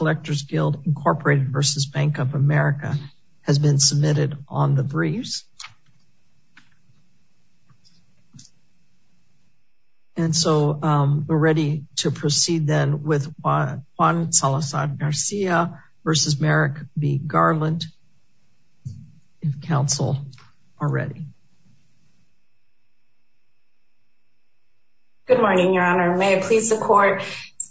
Electors Guild Incorporated v. Bank of America has been submitted on the briefs. And so we're ready to proceed then with Juan Salazar-Garcia v. Merrick v. Garland if counsel are ready. Good morning, Your Honor. May it please the court.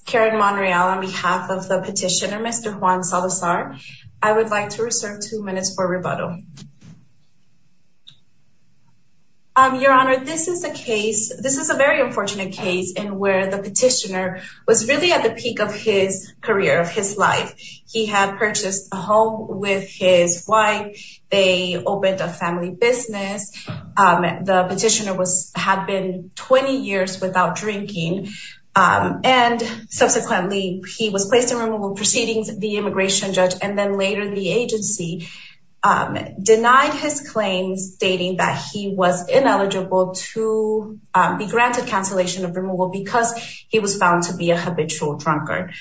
Karen Monreal on behalf of the petitioner, Mr. Juan Salazar. I would like to reserve two minutes for rebuttal. Your Honor, this is a case, this is a very unfortunate case in where the petitioner was really at the peak of his career, of his life. He had purchased a home with his wife. They opened a family business. The petitioner had been 20 years without drinking. And subsequently, he was placed in removal proceedings. The immigration judge and then later the agency denied his claims stating that he was ineligible to be granted cancellation of removal because he was found to be a habitual drunkard.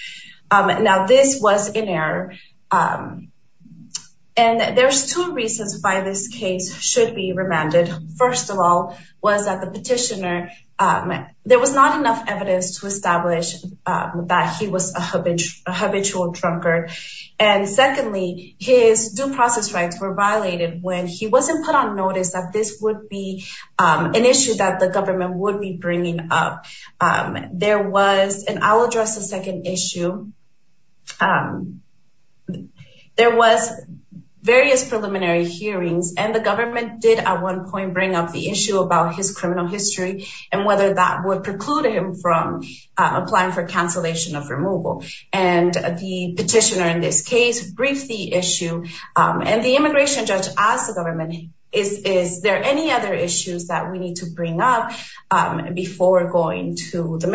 Now, this was in error. And there's two reasons why this case should be remanded. First of all, was that the petitioner, there was not enough evidence to establish that he was a habitual drunkard. And secondly, his due process rights were violated when he wasn't put on notice that this would be an issue that the government would be bringing up. There was, and I'll address the second issue. There was various preliminary hearings and the government did at one point bring up the issue about his criminal history, and whether that would preclude him from applying for cancellation of removal. And the petitioner in this case briefed the issue. And the immigration judge asked the government, is there any other issues that we need to bring up before going to the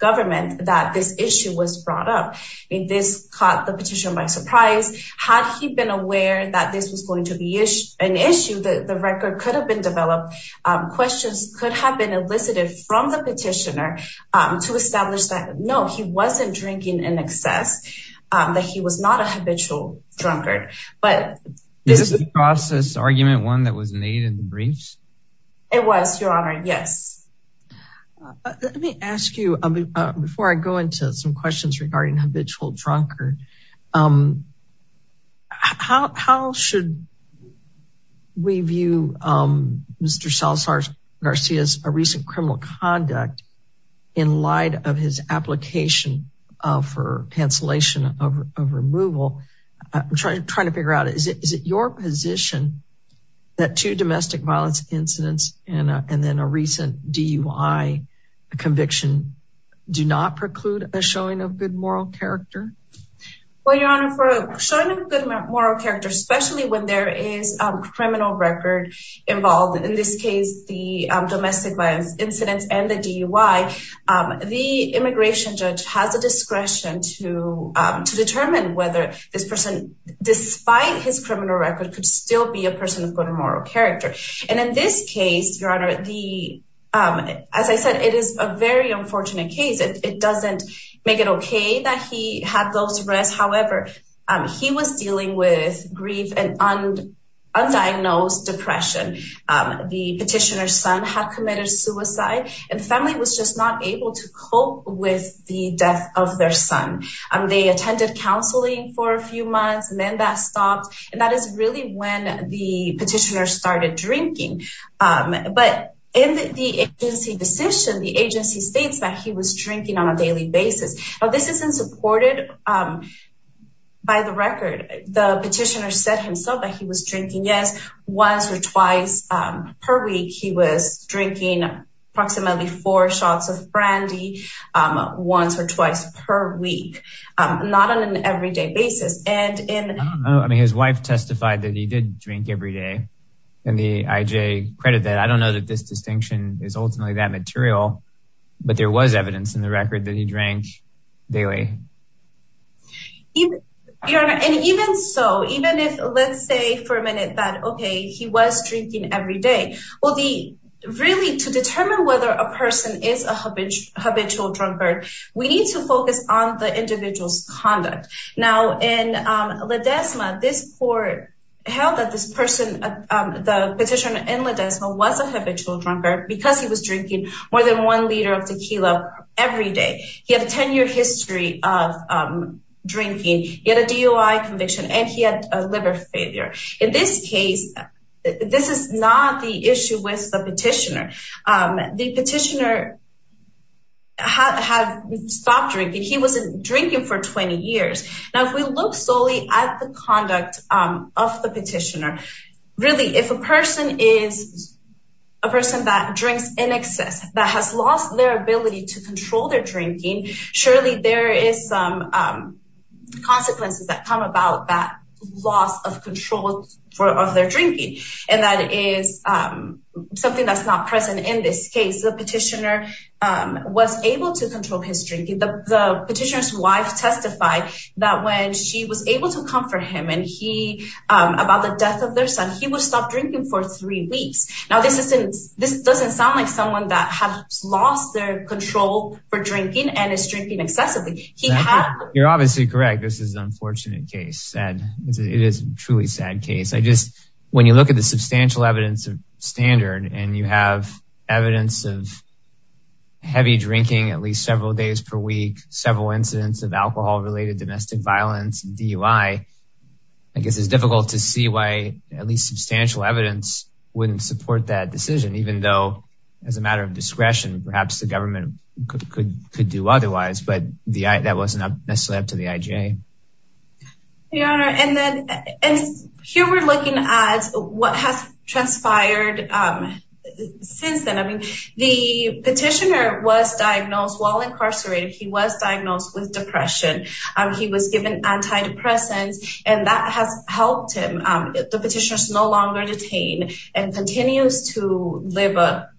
government that this issue was brought up? And this caught the petitioner by surprise. Had he been aware that this was going to be an issue, that the record could have been developed, questions could have been elicited from the petitioner to establish that no, he wasn't drinking in excess, that he was not a habitual drunkard. But this is a process argument one was made in the briefs? It was your honor. Yes. Let me ask you, before I go into some questions regarding habitual drunkard. How should we view Mr. Salazar Garcia's recent criminal conduct in light of his application for cancellation of removal? I'm trying to figure out, is it your position that two domestic violence incidents and then a recent DUI conviction do not preclude a showing of good moral character? Well, your honor, for showing a good moral character, especially when there is a criminal record involved, in this case, the domestic violence incidents and the DUI, the immigration judge has a discretion to determine whether this person, despite his criminal record, could still be a person of good moral character. And in this case, your honor, as I said, it is a very unfortunate case. It doesn't make it okay that he had those arrests. However, he was dealing with grief and undiagnosed depression. The petitioner's son had committed suicide and the family was just not able to cope with the for a few months. And then that stopped. And that is really when the petitioner started drinking. But in the agency decision, the agency states that he was drinking on a daily basis. Now, this isn't supported by the record. The petitioner said himself that he was drinking, yes, once or twice per week. He was drinking approximately four shots of brandy once or twice per week, not on an everyday basis. I mean, his wife testified that he did drink every day. And the IJ credited that. I don't know that this distinction is ultimately that material, but there was evidence in the record that he drank daily. Your honor, and even so, even if let's say for a minute that, okay, he was drinking every day. Well, really to determine whether a person is a habitual drunkard, we need to focus on the individual's conduct. Now, in Ledesma, this court held that this person, the petitioner in Ledesma was a habitual drunkard because he was drinking more than one liter of tequila every day. He had a 10-year history of drinking. He had a DOI conviction and he had a liver failure. In this case, this is not the issue with the petitioner. The petitioner had stopped drinking. He wasn't drinking for 20 years. Now, if we look solely at the conduct of the petitioner, really, if a person is a person that drinks in excess, that has lost their ability to control their drinking, surely there is some consequences that come about that loss of control of their drinking. That is something that's not present in this case. The petitioner was able to control his drinking. The petitioner's wife testified that when she was able to comfort him about the death of their son, he would stop drinking for three weeks. Now, this doesn't sound like someone that has lost their You're obviously correct. This is an unfortunate case. It is a truly sad case. When you look at the substantial evidence of standard and you have evidence of heavy drinking at least several days per week, several incidents of alcohol-related domestic violence, DUI, I guess it's difficult to see why at least substantial evidence wouldn't support that decision, even though as a matter of discretion, perhaps the government could do otherwise, but that wasn't necessarily up to the IGA. Your Honor, here we're looking at what has transpired since then. The petitioner was diagnosed while incarcerated. He was diagnosed with depression. He was given antidepressants, and that has helped him. The petitioner is no longer detained and continues to live a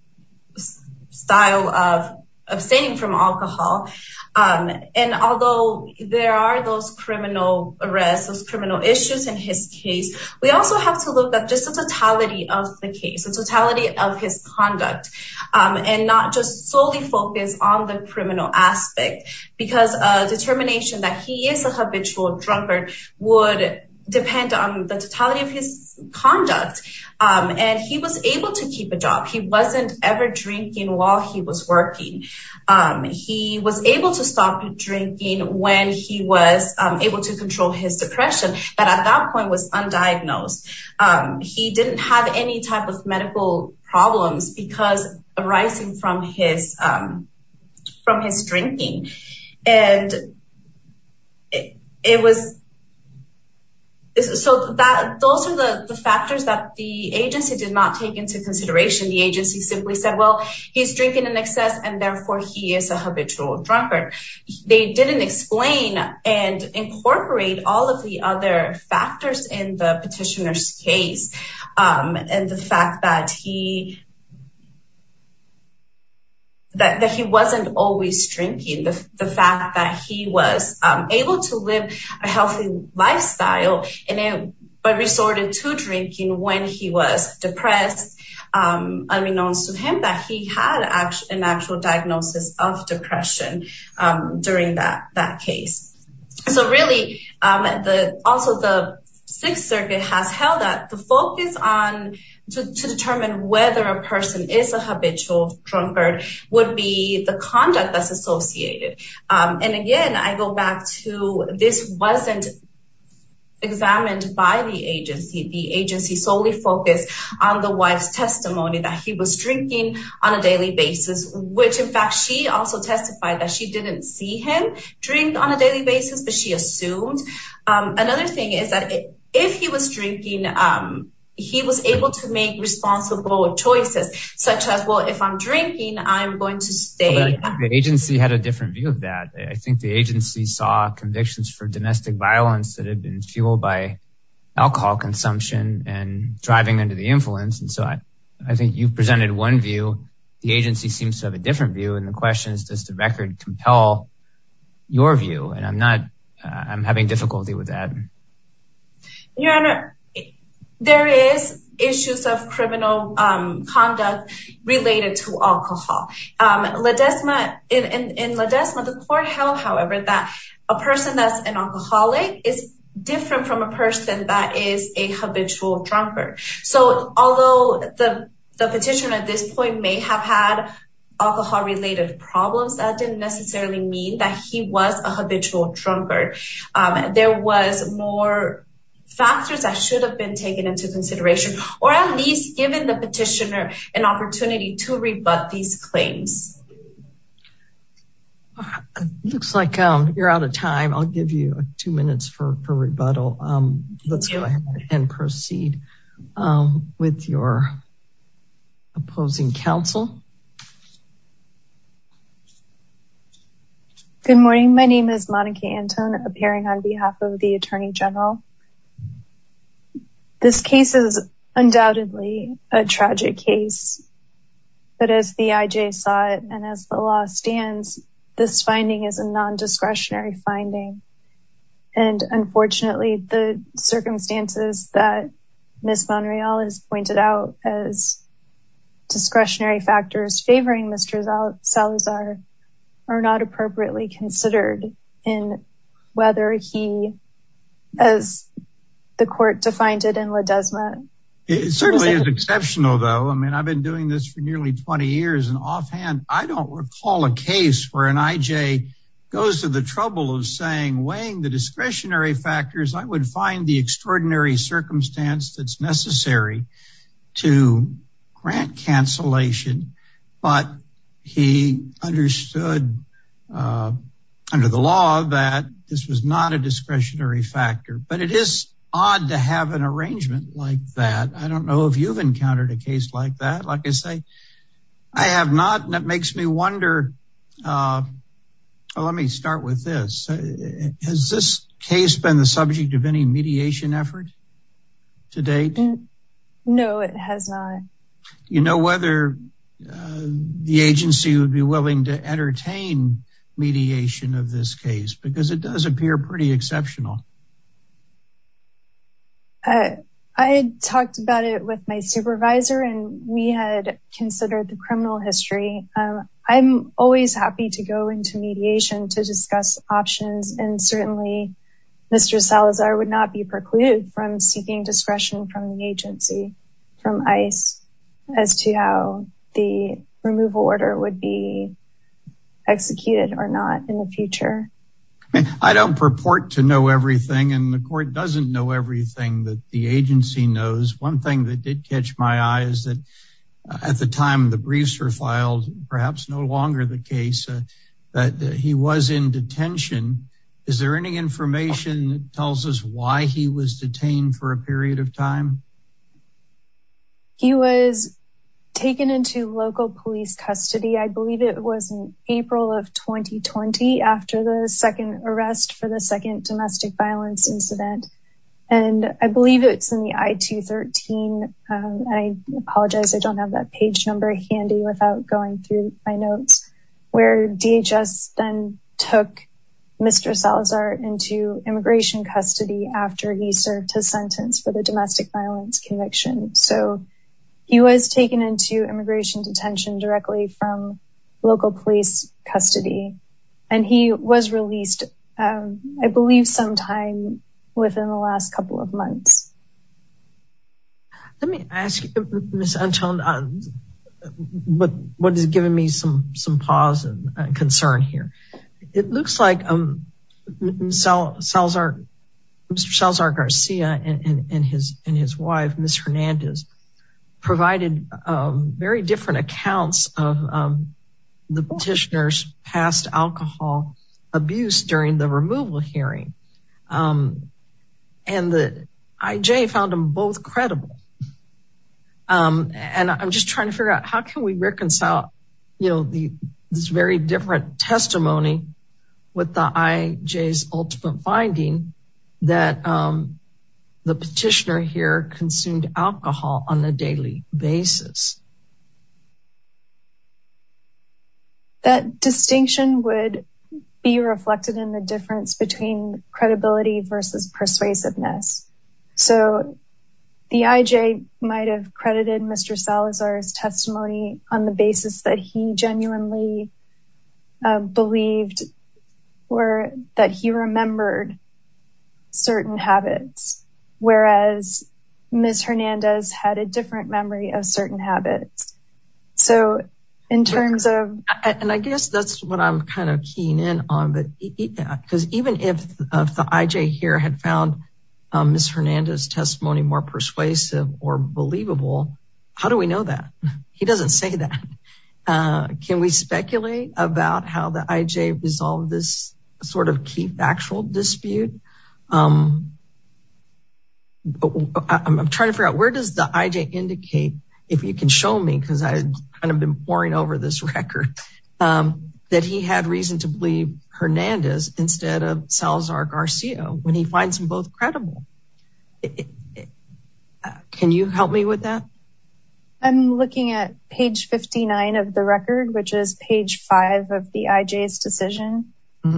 style of abstaining from alcohol. Although there are those criminal arrests, those criminal issues in his case, we also have to look at just the totality of the case, the totality of his conduct, and not just solely focus on the criminal aspect because a determination that he is a habitual drunkard would depend on the totality of his conduct. He was able to keep a job. He wasn't ever drinking while he was working. He was able to stop drinking when he was able to control his depression, but at that point was undiagnosed. He didn't have any type of medical problems because arising from his drinking. Those are the factors that the agency did not take into consideration. The agency simply said, well, he's drinking in excess, and therefore he is a habitual drunkard. They didn't explain and incorporate all of the other factors in the petitioner's case and the fact that he wasn't always drinking. The fact that he was able to live a healthy lifestyle and resorted to drinking when he was depressed, unbeknownst to him that he had an actual diagnosis of depression during that case. Also, the Sixth Circuit has held that the focus to determine whether a person is a habitual drunkard would be the conduct that's associated. Again, I go back to this wasn't examined by the agency. The agency solely focused on the wife's testimony that he was drinking on a daily basis, which in fact, she also testified that she didn't see him drink on a daily basis, but she assumed. Another thing is that if he was drinking, he was able to make responsible choices such as, well, if I'm drinking, I'm going to stay. The agency had a different view of that. I think the agency saw convictions for domestic violence that had been fueled by one view. The agency seems to have a different view. The question is, does the record compel your view? I'm having difficulty with that. Your Honor, there is issues of criminal conduct related to alcohol. In La Desma, the court held, however, that a person that's an alcoholic is different from a person that is a habitual drunkard. Although the petitioner at this point may have had alcohol-related problems, that didn't necessarily mean that he was a habitual drunkard. There was more factors that should have been taken into consideration, or at least given the petitioner an opportunity to rebut these claims. It looks like you're out of time. I'll give you two minutes for rebuttal. Let's go ahead and proceed with your opposing counsel. Good morning. My name is Monica Anton, appearing on behalf of the Attorney General. This case is undoubtedly a tragic case, but as the IJ saw it, and as the law stands, this finding is a non-discretionary finding. Unfortunately, the circumstances that Ms. Monreal has pointed out as discretionary factors favoring Mr. Salazar are not appropriately considered in whether he, as the court defined it in La Desma. It certainly is exceptional, though. I mean, I've been doing this for nearly 20 years, and offhand, I don't recall a case where an IJ goes to the trouble of saying, weighing the discretionary factors, I would find the extraordinary circumstance that's necessary to grant cancellation, but he understood under the law that this was not a discretionary factor. But it is odd to have an arrangement like that. I don't know if you've encountered a case like that. Like I say, I have not, and it makes me wonder. Let me start with this. Has this case been the No, it has not. You know whether the agency would be willing to entertain mediation of this case, because it does appear pretty exceptional. I talked about it with my supervisor, and we had considered the criminal history. I'm always happy to go into mediation to discuss options, and certainly Mr. Salazar would not be precluded from seeking discretion from the agency, from ICE, as to how the removal order would be executed or not in the future. I don't purport to know everything, and the court doesn't know everything that the agency knows. One thing that did catch my eye is that at the time the briefs were filed, perhaps no longer the case, that he was in detention. Is there any information that tells us why he was detained for a period of time? He was taken into local police custody. I believe it was in April of 2020 after the second arrest for the second domestic violence incident, and I believe it's in the I-213. I apologize. I don't have that page number handy without going through my notes, where DHS then took Mr. Salazar into immigration custody after he served his sentence for the domestic violence conviction. So he was taken into immigration detention directly from local police custody, and he was released I believe sometime within the last couple of months. Let me ask you, Ms. Antón, what has given me some pause and concern here. It looks like Mr. Salazar-Garcia and his wife, Ms. Hernandez, provided very different accounts of the petitioner's past alcohol abuse during the removal hearing. And the IJ found them both credible. And I'm just trying to figure out how can we reconcile this very different testimony with the IJ's ultimate finding that the petitioner here consumed alcohol on a daily basis. That distinction would be reflected in the difference between credibility versus persuasiveness. So the IJ might have credited Mr. Salazar's testimony on the basis that he genuinely believed or that he remembered certain habits, whereas Ms. Hernandez had a different memory of certain habits. And I guess that's what I'm kind of keying in on. Because even if the IJ here had found Ms. Hernandez's testimony more persuasive or believable, how do we know that? He doesn't say that. Can we speculate about how the IJ resolved this sort of key factual dispute? I'm trying to figure out where does the IJ indicate, if you can show me, because I've kind of been poring over this record, that he had reason to believe Hernandez instead of Salazar-Garcia when he finds them both credible. Can you help me with that? I'm looking at page 59 of the record, which is page five of the IJ's decision.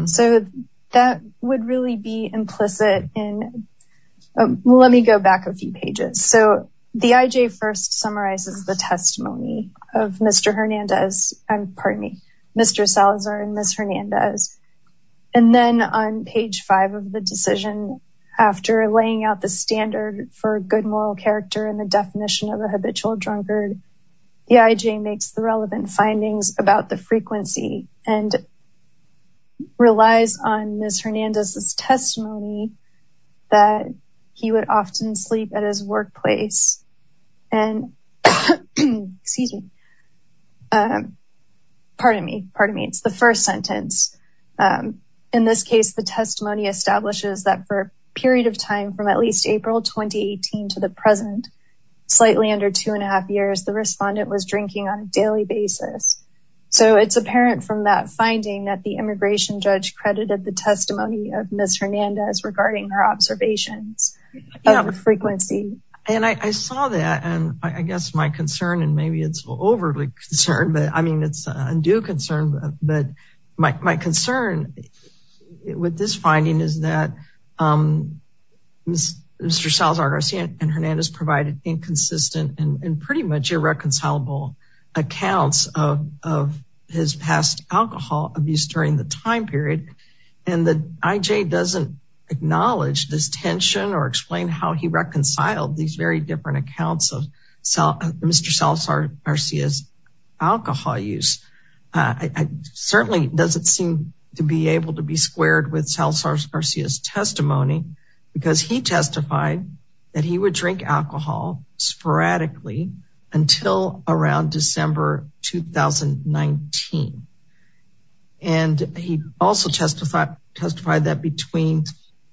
So that would really be implicit in, let me go back a few pages. So the IJ first summarizes the testimony of Mr. Hernandez, pardon me, Mr. Salazar and Ms. Hernandez. And then on page five of the decision, after laying out the standard for good moral character and the definition of a habitual drunkard, the IJ makes the relevant findings about the frequency and relies on Ms. Hernandez's testimony that he would often sleep at his workplace and, excuse me, pardon me, pardon me, it's the first sentence. In this case, the testimony establishes that for a period of time from at least April 2018 to the present, slightly under two and a half years, the respondent was drinking on a daily basis. So it's apparent from that finding that the immigration judge credited the testimony of Ms. Hernandez regarding her observations of frequency. And I saw that, and I guess my concern, and maybe it's overly concerned, but I mean, it's an undue concern, but my concern with this finding is that Mr. Salazar-Garcia and of his past alcohol abuse during the time period, and the IJ doesn't acknowledge this tension or explain how he reconciled these very different accounts of Mr. Salazar-Garcia's alcohol use. Certainly doesn't seem to be able to be squared with Salazar-Garcia's testimony, because he testified that he would drink alcohol sporadically until around December 2019. And he also testified that between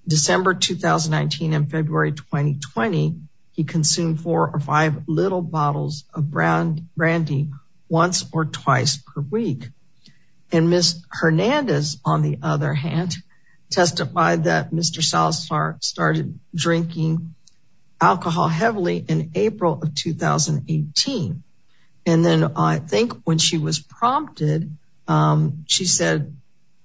December 2019 and February 2020, he consumed four or five little bottles of brandy once or twice per week. And Ms. Hernandez, on the other hand, testified that Mr. Salazar started drinking alcohol heavily in April of 2018. And then I think when she was prompted, she said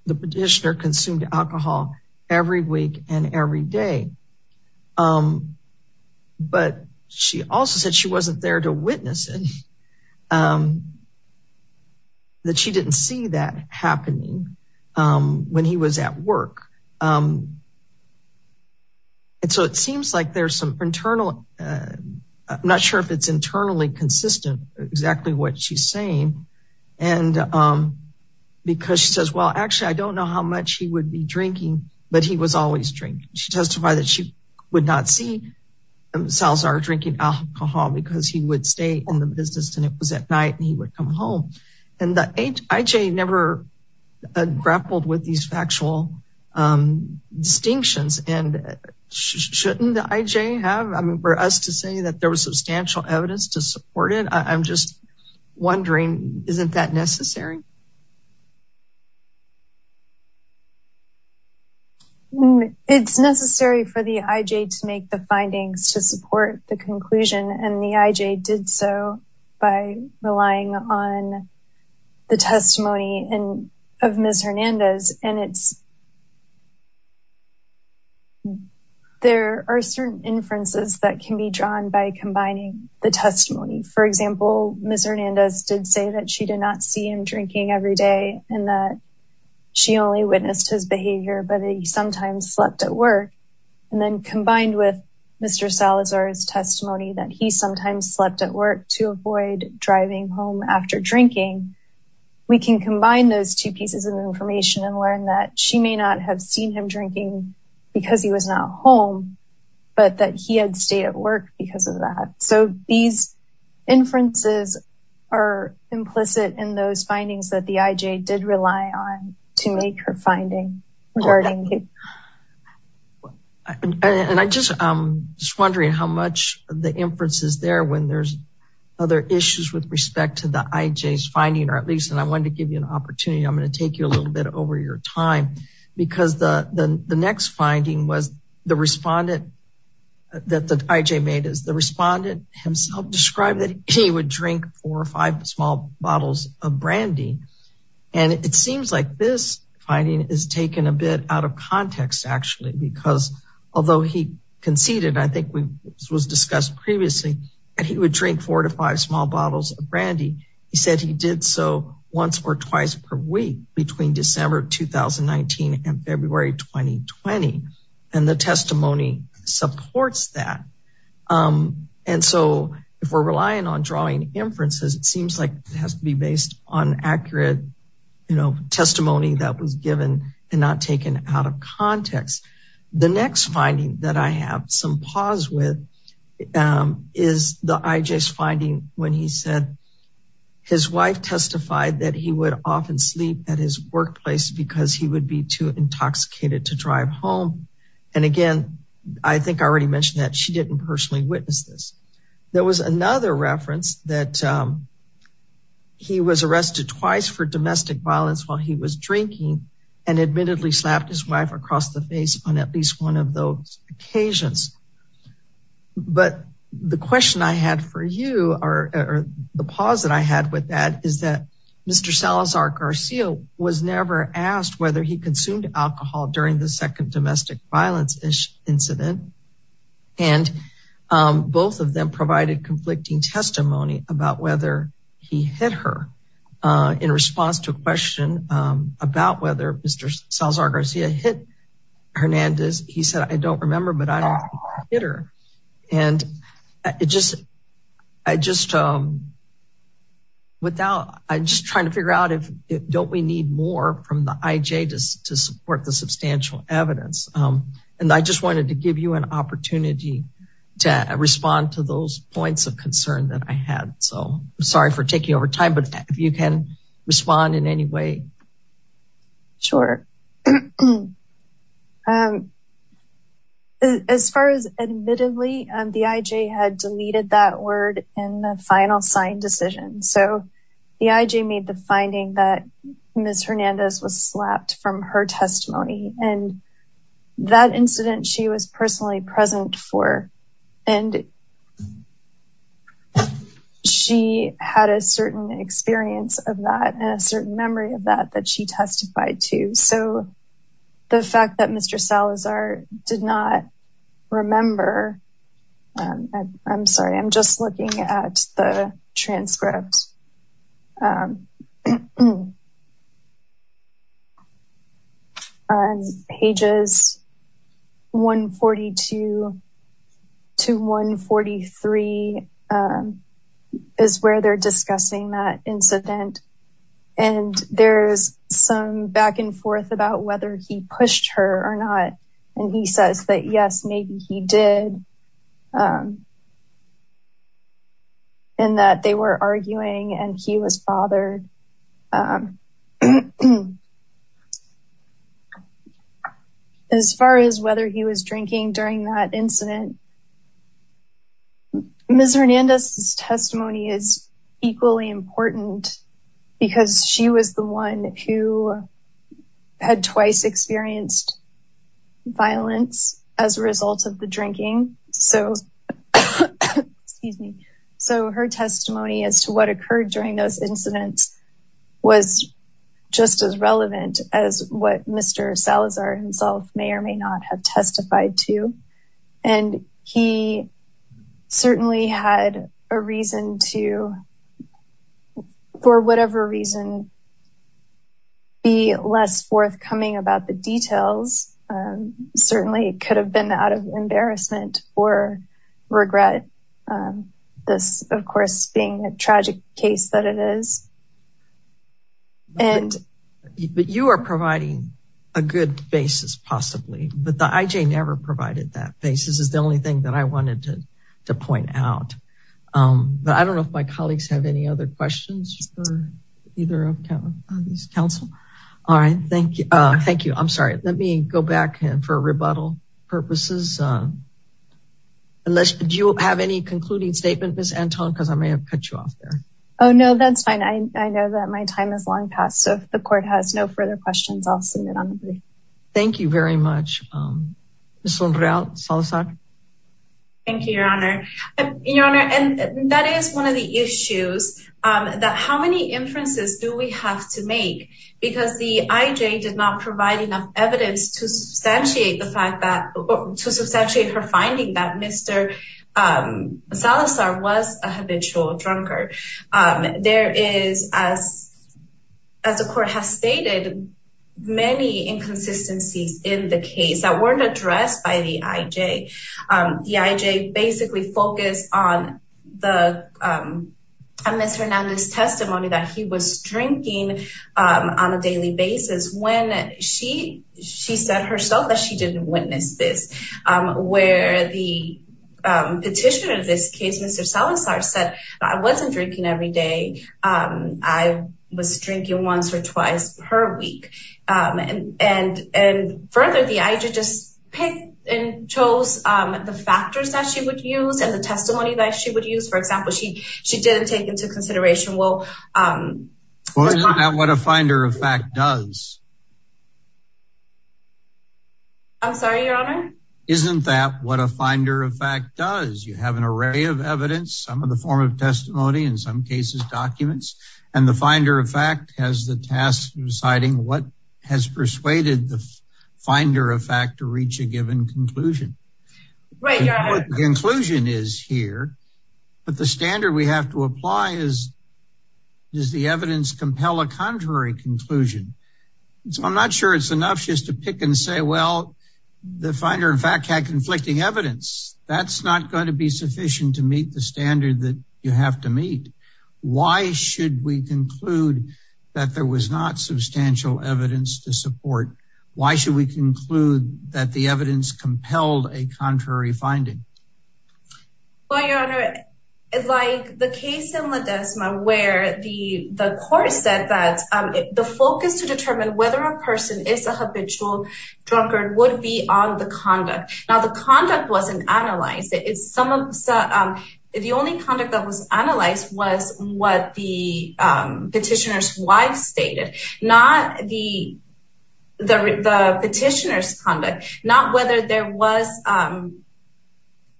the petitioner consumed alcohol every week and every day. But she also said she wasn't there to witness it, and that she didn't see that happening when he was at work. And so it seems like there's some internal, I'm not sure if it's internally consistent, exactly what she's saying. And because she says, well, actually, I don't know how much he would be drinking, but he was always drinking. She testified that she would not see Salazar drinking alcohol because he would stay in the business, and it was at night, and he would come home. And the IJ never grappled with these factual distinctions. And shouldn't the IJ have, I mean, for us to say that there was substantial evidence to support it? I'm just wondering, isn't that the conclusion? And the IJ did so by relying on the testimony of Ms. Hernandez. And it's, there are certain inferences that can be drawn by combining the testimony. For example, Ms. Hernandez did say that she did not see him drinking every day, and that she only witnessed his behavior, but he sometimes slept at work. And then combined with Mr. Salazar's testimony, that he sometimes slept at work to avoid driving home after drinking. We can combine those two pieces of information and learn that she may not have seen him drinking because he was not home, but that he had stayed at work because of that. So these inferences are implicit in those findings that the IJ did rely on to make her finding regarding him. And I just, I'm just wondering how much the inference is there when there's other issues with respect to the IJ's finding, or at least, and I wanted to give you an opportunity, I'm going to take you a little bit over your time, because the next finding was the respondent that the IJ made is the respondent himself described that he would drink four or five small bottles of brandy. And it seems like this finding is taken a bit out of context, actually, because although he conceded, I think we was discussed previously, that he would drink four to five small bottles of brandy. He said he did so once or twice per week between December 2019 and February 2020. And the testimony supports that. And so if we're relying on drawing inferences, it seems like it has to be based on accurate, you know, testimony that was given and not taken out of context. The next finding that I have some pause with is the IJ's finding when he said his wife testified that he would often sleep at his workplace because he would be too intoxicated to drive home. And again, I think I mentioned that she didn't personally witness this. There was another reference that he was arrested twice for domestic violence while he was drinking and admittedly slapped his wife across the face on at least one of those occasions. But the question I had for you or the pause that I had with that is that Mr. Salazar Garcia was never asked whether he consumed alcohol during the and both of them provided conflicting testimony about whether he hit her in response to a question about whether Mr. Salazar Garcia hit Hernandez. He said, I don't remember, but I don't hit her. And it just I just without I just trying to figure out if don't we need more from the IJ to support the substantial evidence. And I just wanted to give you an opportunity to respond to those points of concern that I had. So I'm sorry for taking over time, but if you can respond in any way. Sure. As far as admittedly, the IJ had deleted that word in the final sign decision. So the IJ made the finding that Ms. Hernandez was slapped from her testimony and that incident she was personally present for and she had a certain experience of that and a certain memory of that that she testified to. So the fact that Mr. Salazar did not remember, I'm sorry, I'm just looking at the transcript on pages 142 to 143 is where they're discussing that incident. And there's some back and forth about whether he pushed her or not. And he says that, yes, maybe he did. And that they were arguing and he was bothered. As far as whether he was drinking during that incident, Ms. Hernandez's testimony is equally important because she was the one who had twice experienced violence as a result of the drinking. So her testimony as to what occurred during those incidents was just as relevant as what Mr. Salazar himself may or may not have less forthcoming about the details. Certainly, it could have been out of embarrassment or regret. This, of course, being a tragic case that it is. But you are providing a good basis, possibly. But the IJ never provided that basis is the only thing that I wanted to point out. But I don't know if my colleagues have any other questions for either of these counsel. All right. Thank you. Thank you. I'm sorry. Let me go back for rebuttal purposes. Unless you have any concluding statement, Ms. Anton, because I may have cut you off there. Oh, no, that's fine. I know that my time is long past. So if the court has no further questions, I'll submit on the brief. Thank you very much. Ms. Unreal Salazar. Thank you, Your Honor. And that is one of the issues that how many inferences do we have to make? Because the IJ did not provide enough evidence to substantiate the fact that to substantiate her finding that Mr. Salazar was a habitual drunkard. There is, as the court has the IJ basically focused on the Mr. Hernandez testimony that he was drinking on a daily basis when she said herself that she didn't witness this, where the petitioner of this case, Mr. Salazar said, I wasn't drinking every day. I was drinking once or twice per week. And further, the IJ just picked and chose the factors that she would use and the testimony that she would use. For example, she she didn't take into consideration. Well, what a finder of fact does. I'm sorry, Your Honor. Isn't that what a finder of fact does? You have an array of evidence, some of the form of testimony, in some cases documents. And the finder of fact has the task of deciding what has persuaded the finder of fact to reach a given conclusion. The conclusion is here. But the standard we have to apply is, does the evidence compel a contrary conclusion? So I'm not sure it's enough just to pick and say, well, the finder of fact had conflicting evidence. That's not going to be sufficient to meet the evidence to support. Why should we conclude that the evidence compelled a contrary finding? Well, Your Honor, like the case in Ledesma, where the court said that the focus to determine whether a person is a habitual drunkard would be on the conduct. Now the conduct wasn't analyzed. It's some of the only conduct that was analyzed was what the petitioner's wife stated, not the the petitioner's conduct, not whether there was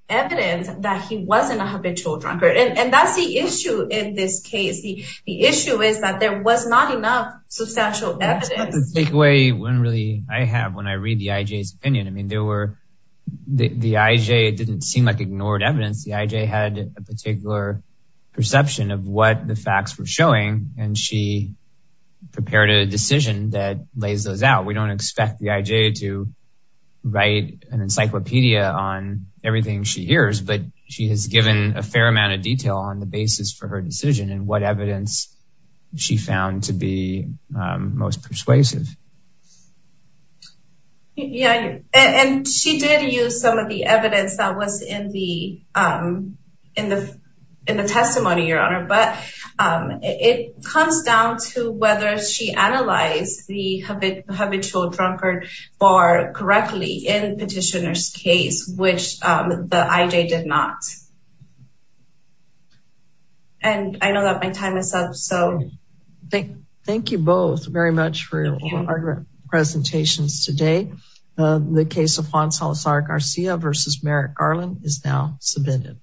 evidence that he wasn't a habitual drunkard. And that's the issue in this case. The issue is that there was not enough substantial evidence to take away when really I have when I read the IJ's opinion. I mean, there were the IJ didn't seem like ignored evidence. The IJ had a particular perception of what the facts were showing. And she prepared a decision that lays those out. We don't expect the IJ to write an encyclopedia on everything she hears, but she has given a fair amount of detail on the basis for her decision and what evidence she found to be most persuasive. Yeah, and she did use some of the evidence that was in the testimony, Your Honor, but it comes down to whether she analyzed the habitual drunkard bar correctly in petitioner's case, which the IJ did not. And I know that my time is up. So thank you both very much for your presentations today. The case of Juan Salazar Garcia versus Merrick Garland is now submitted.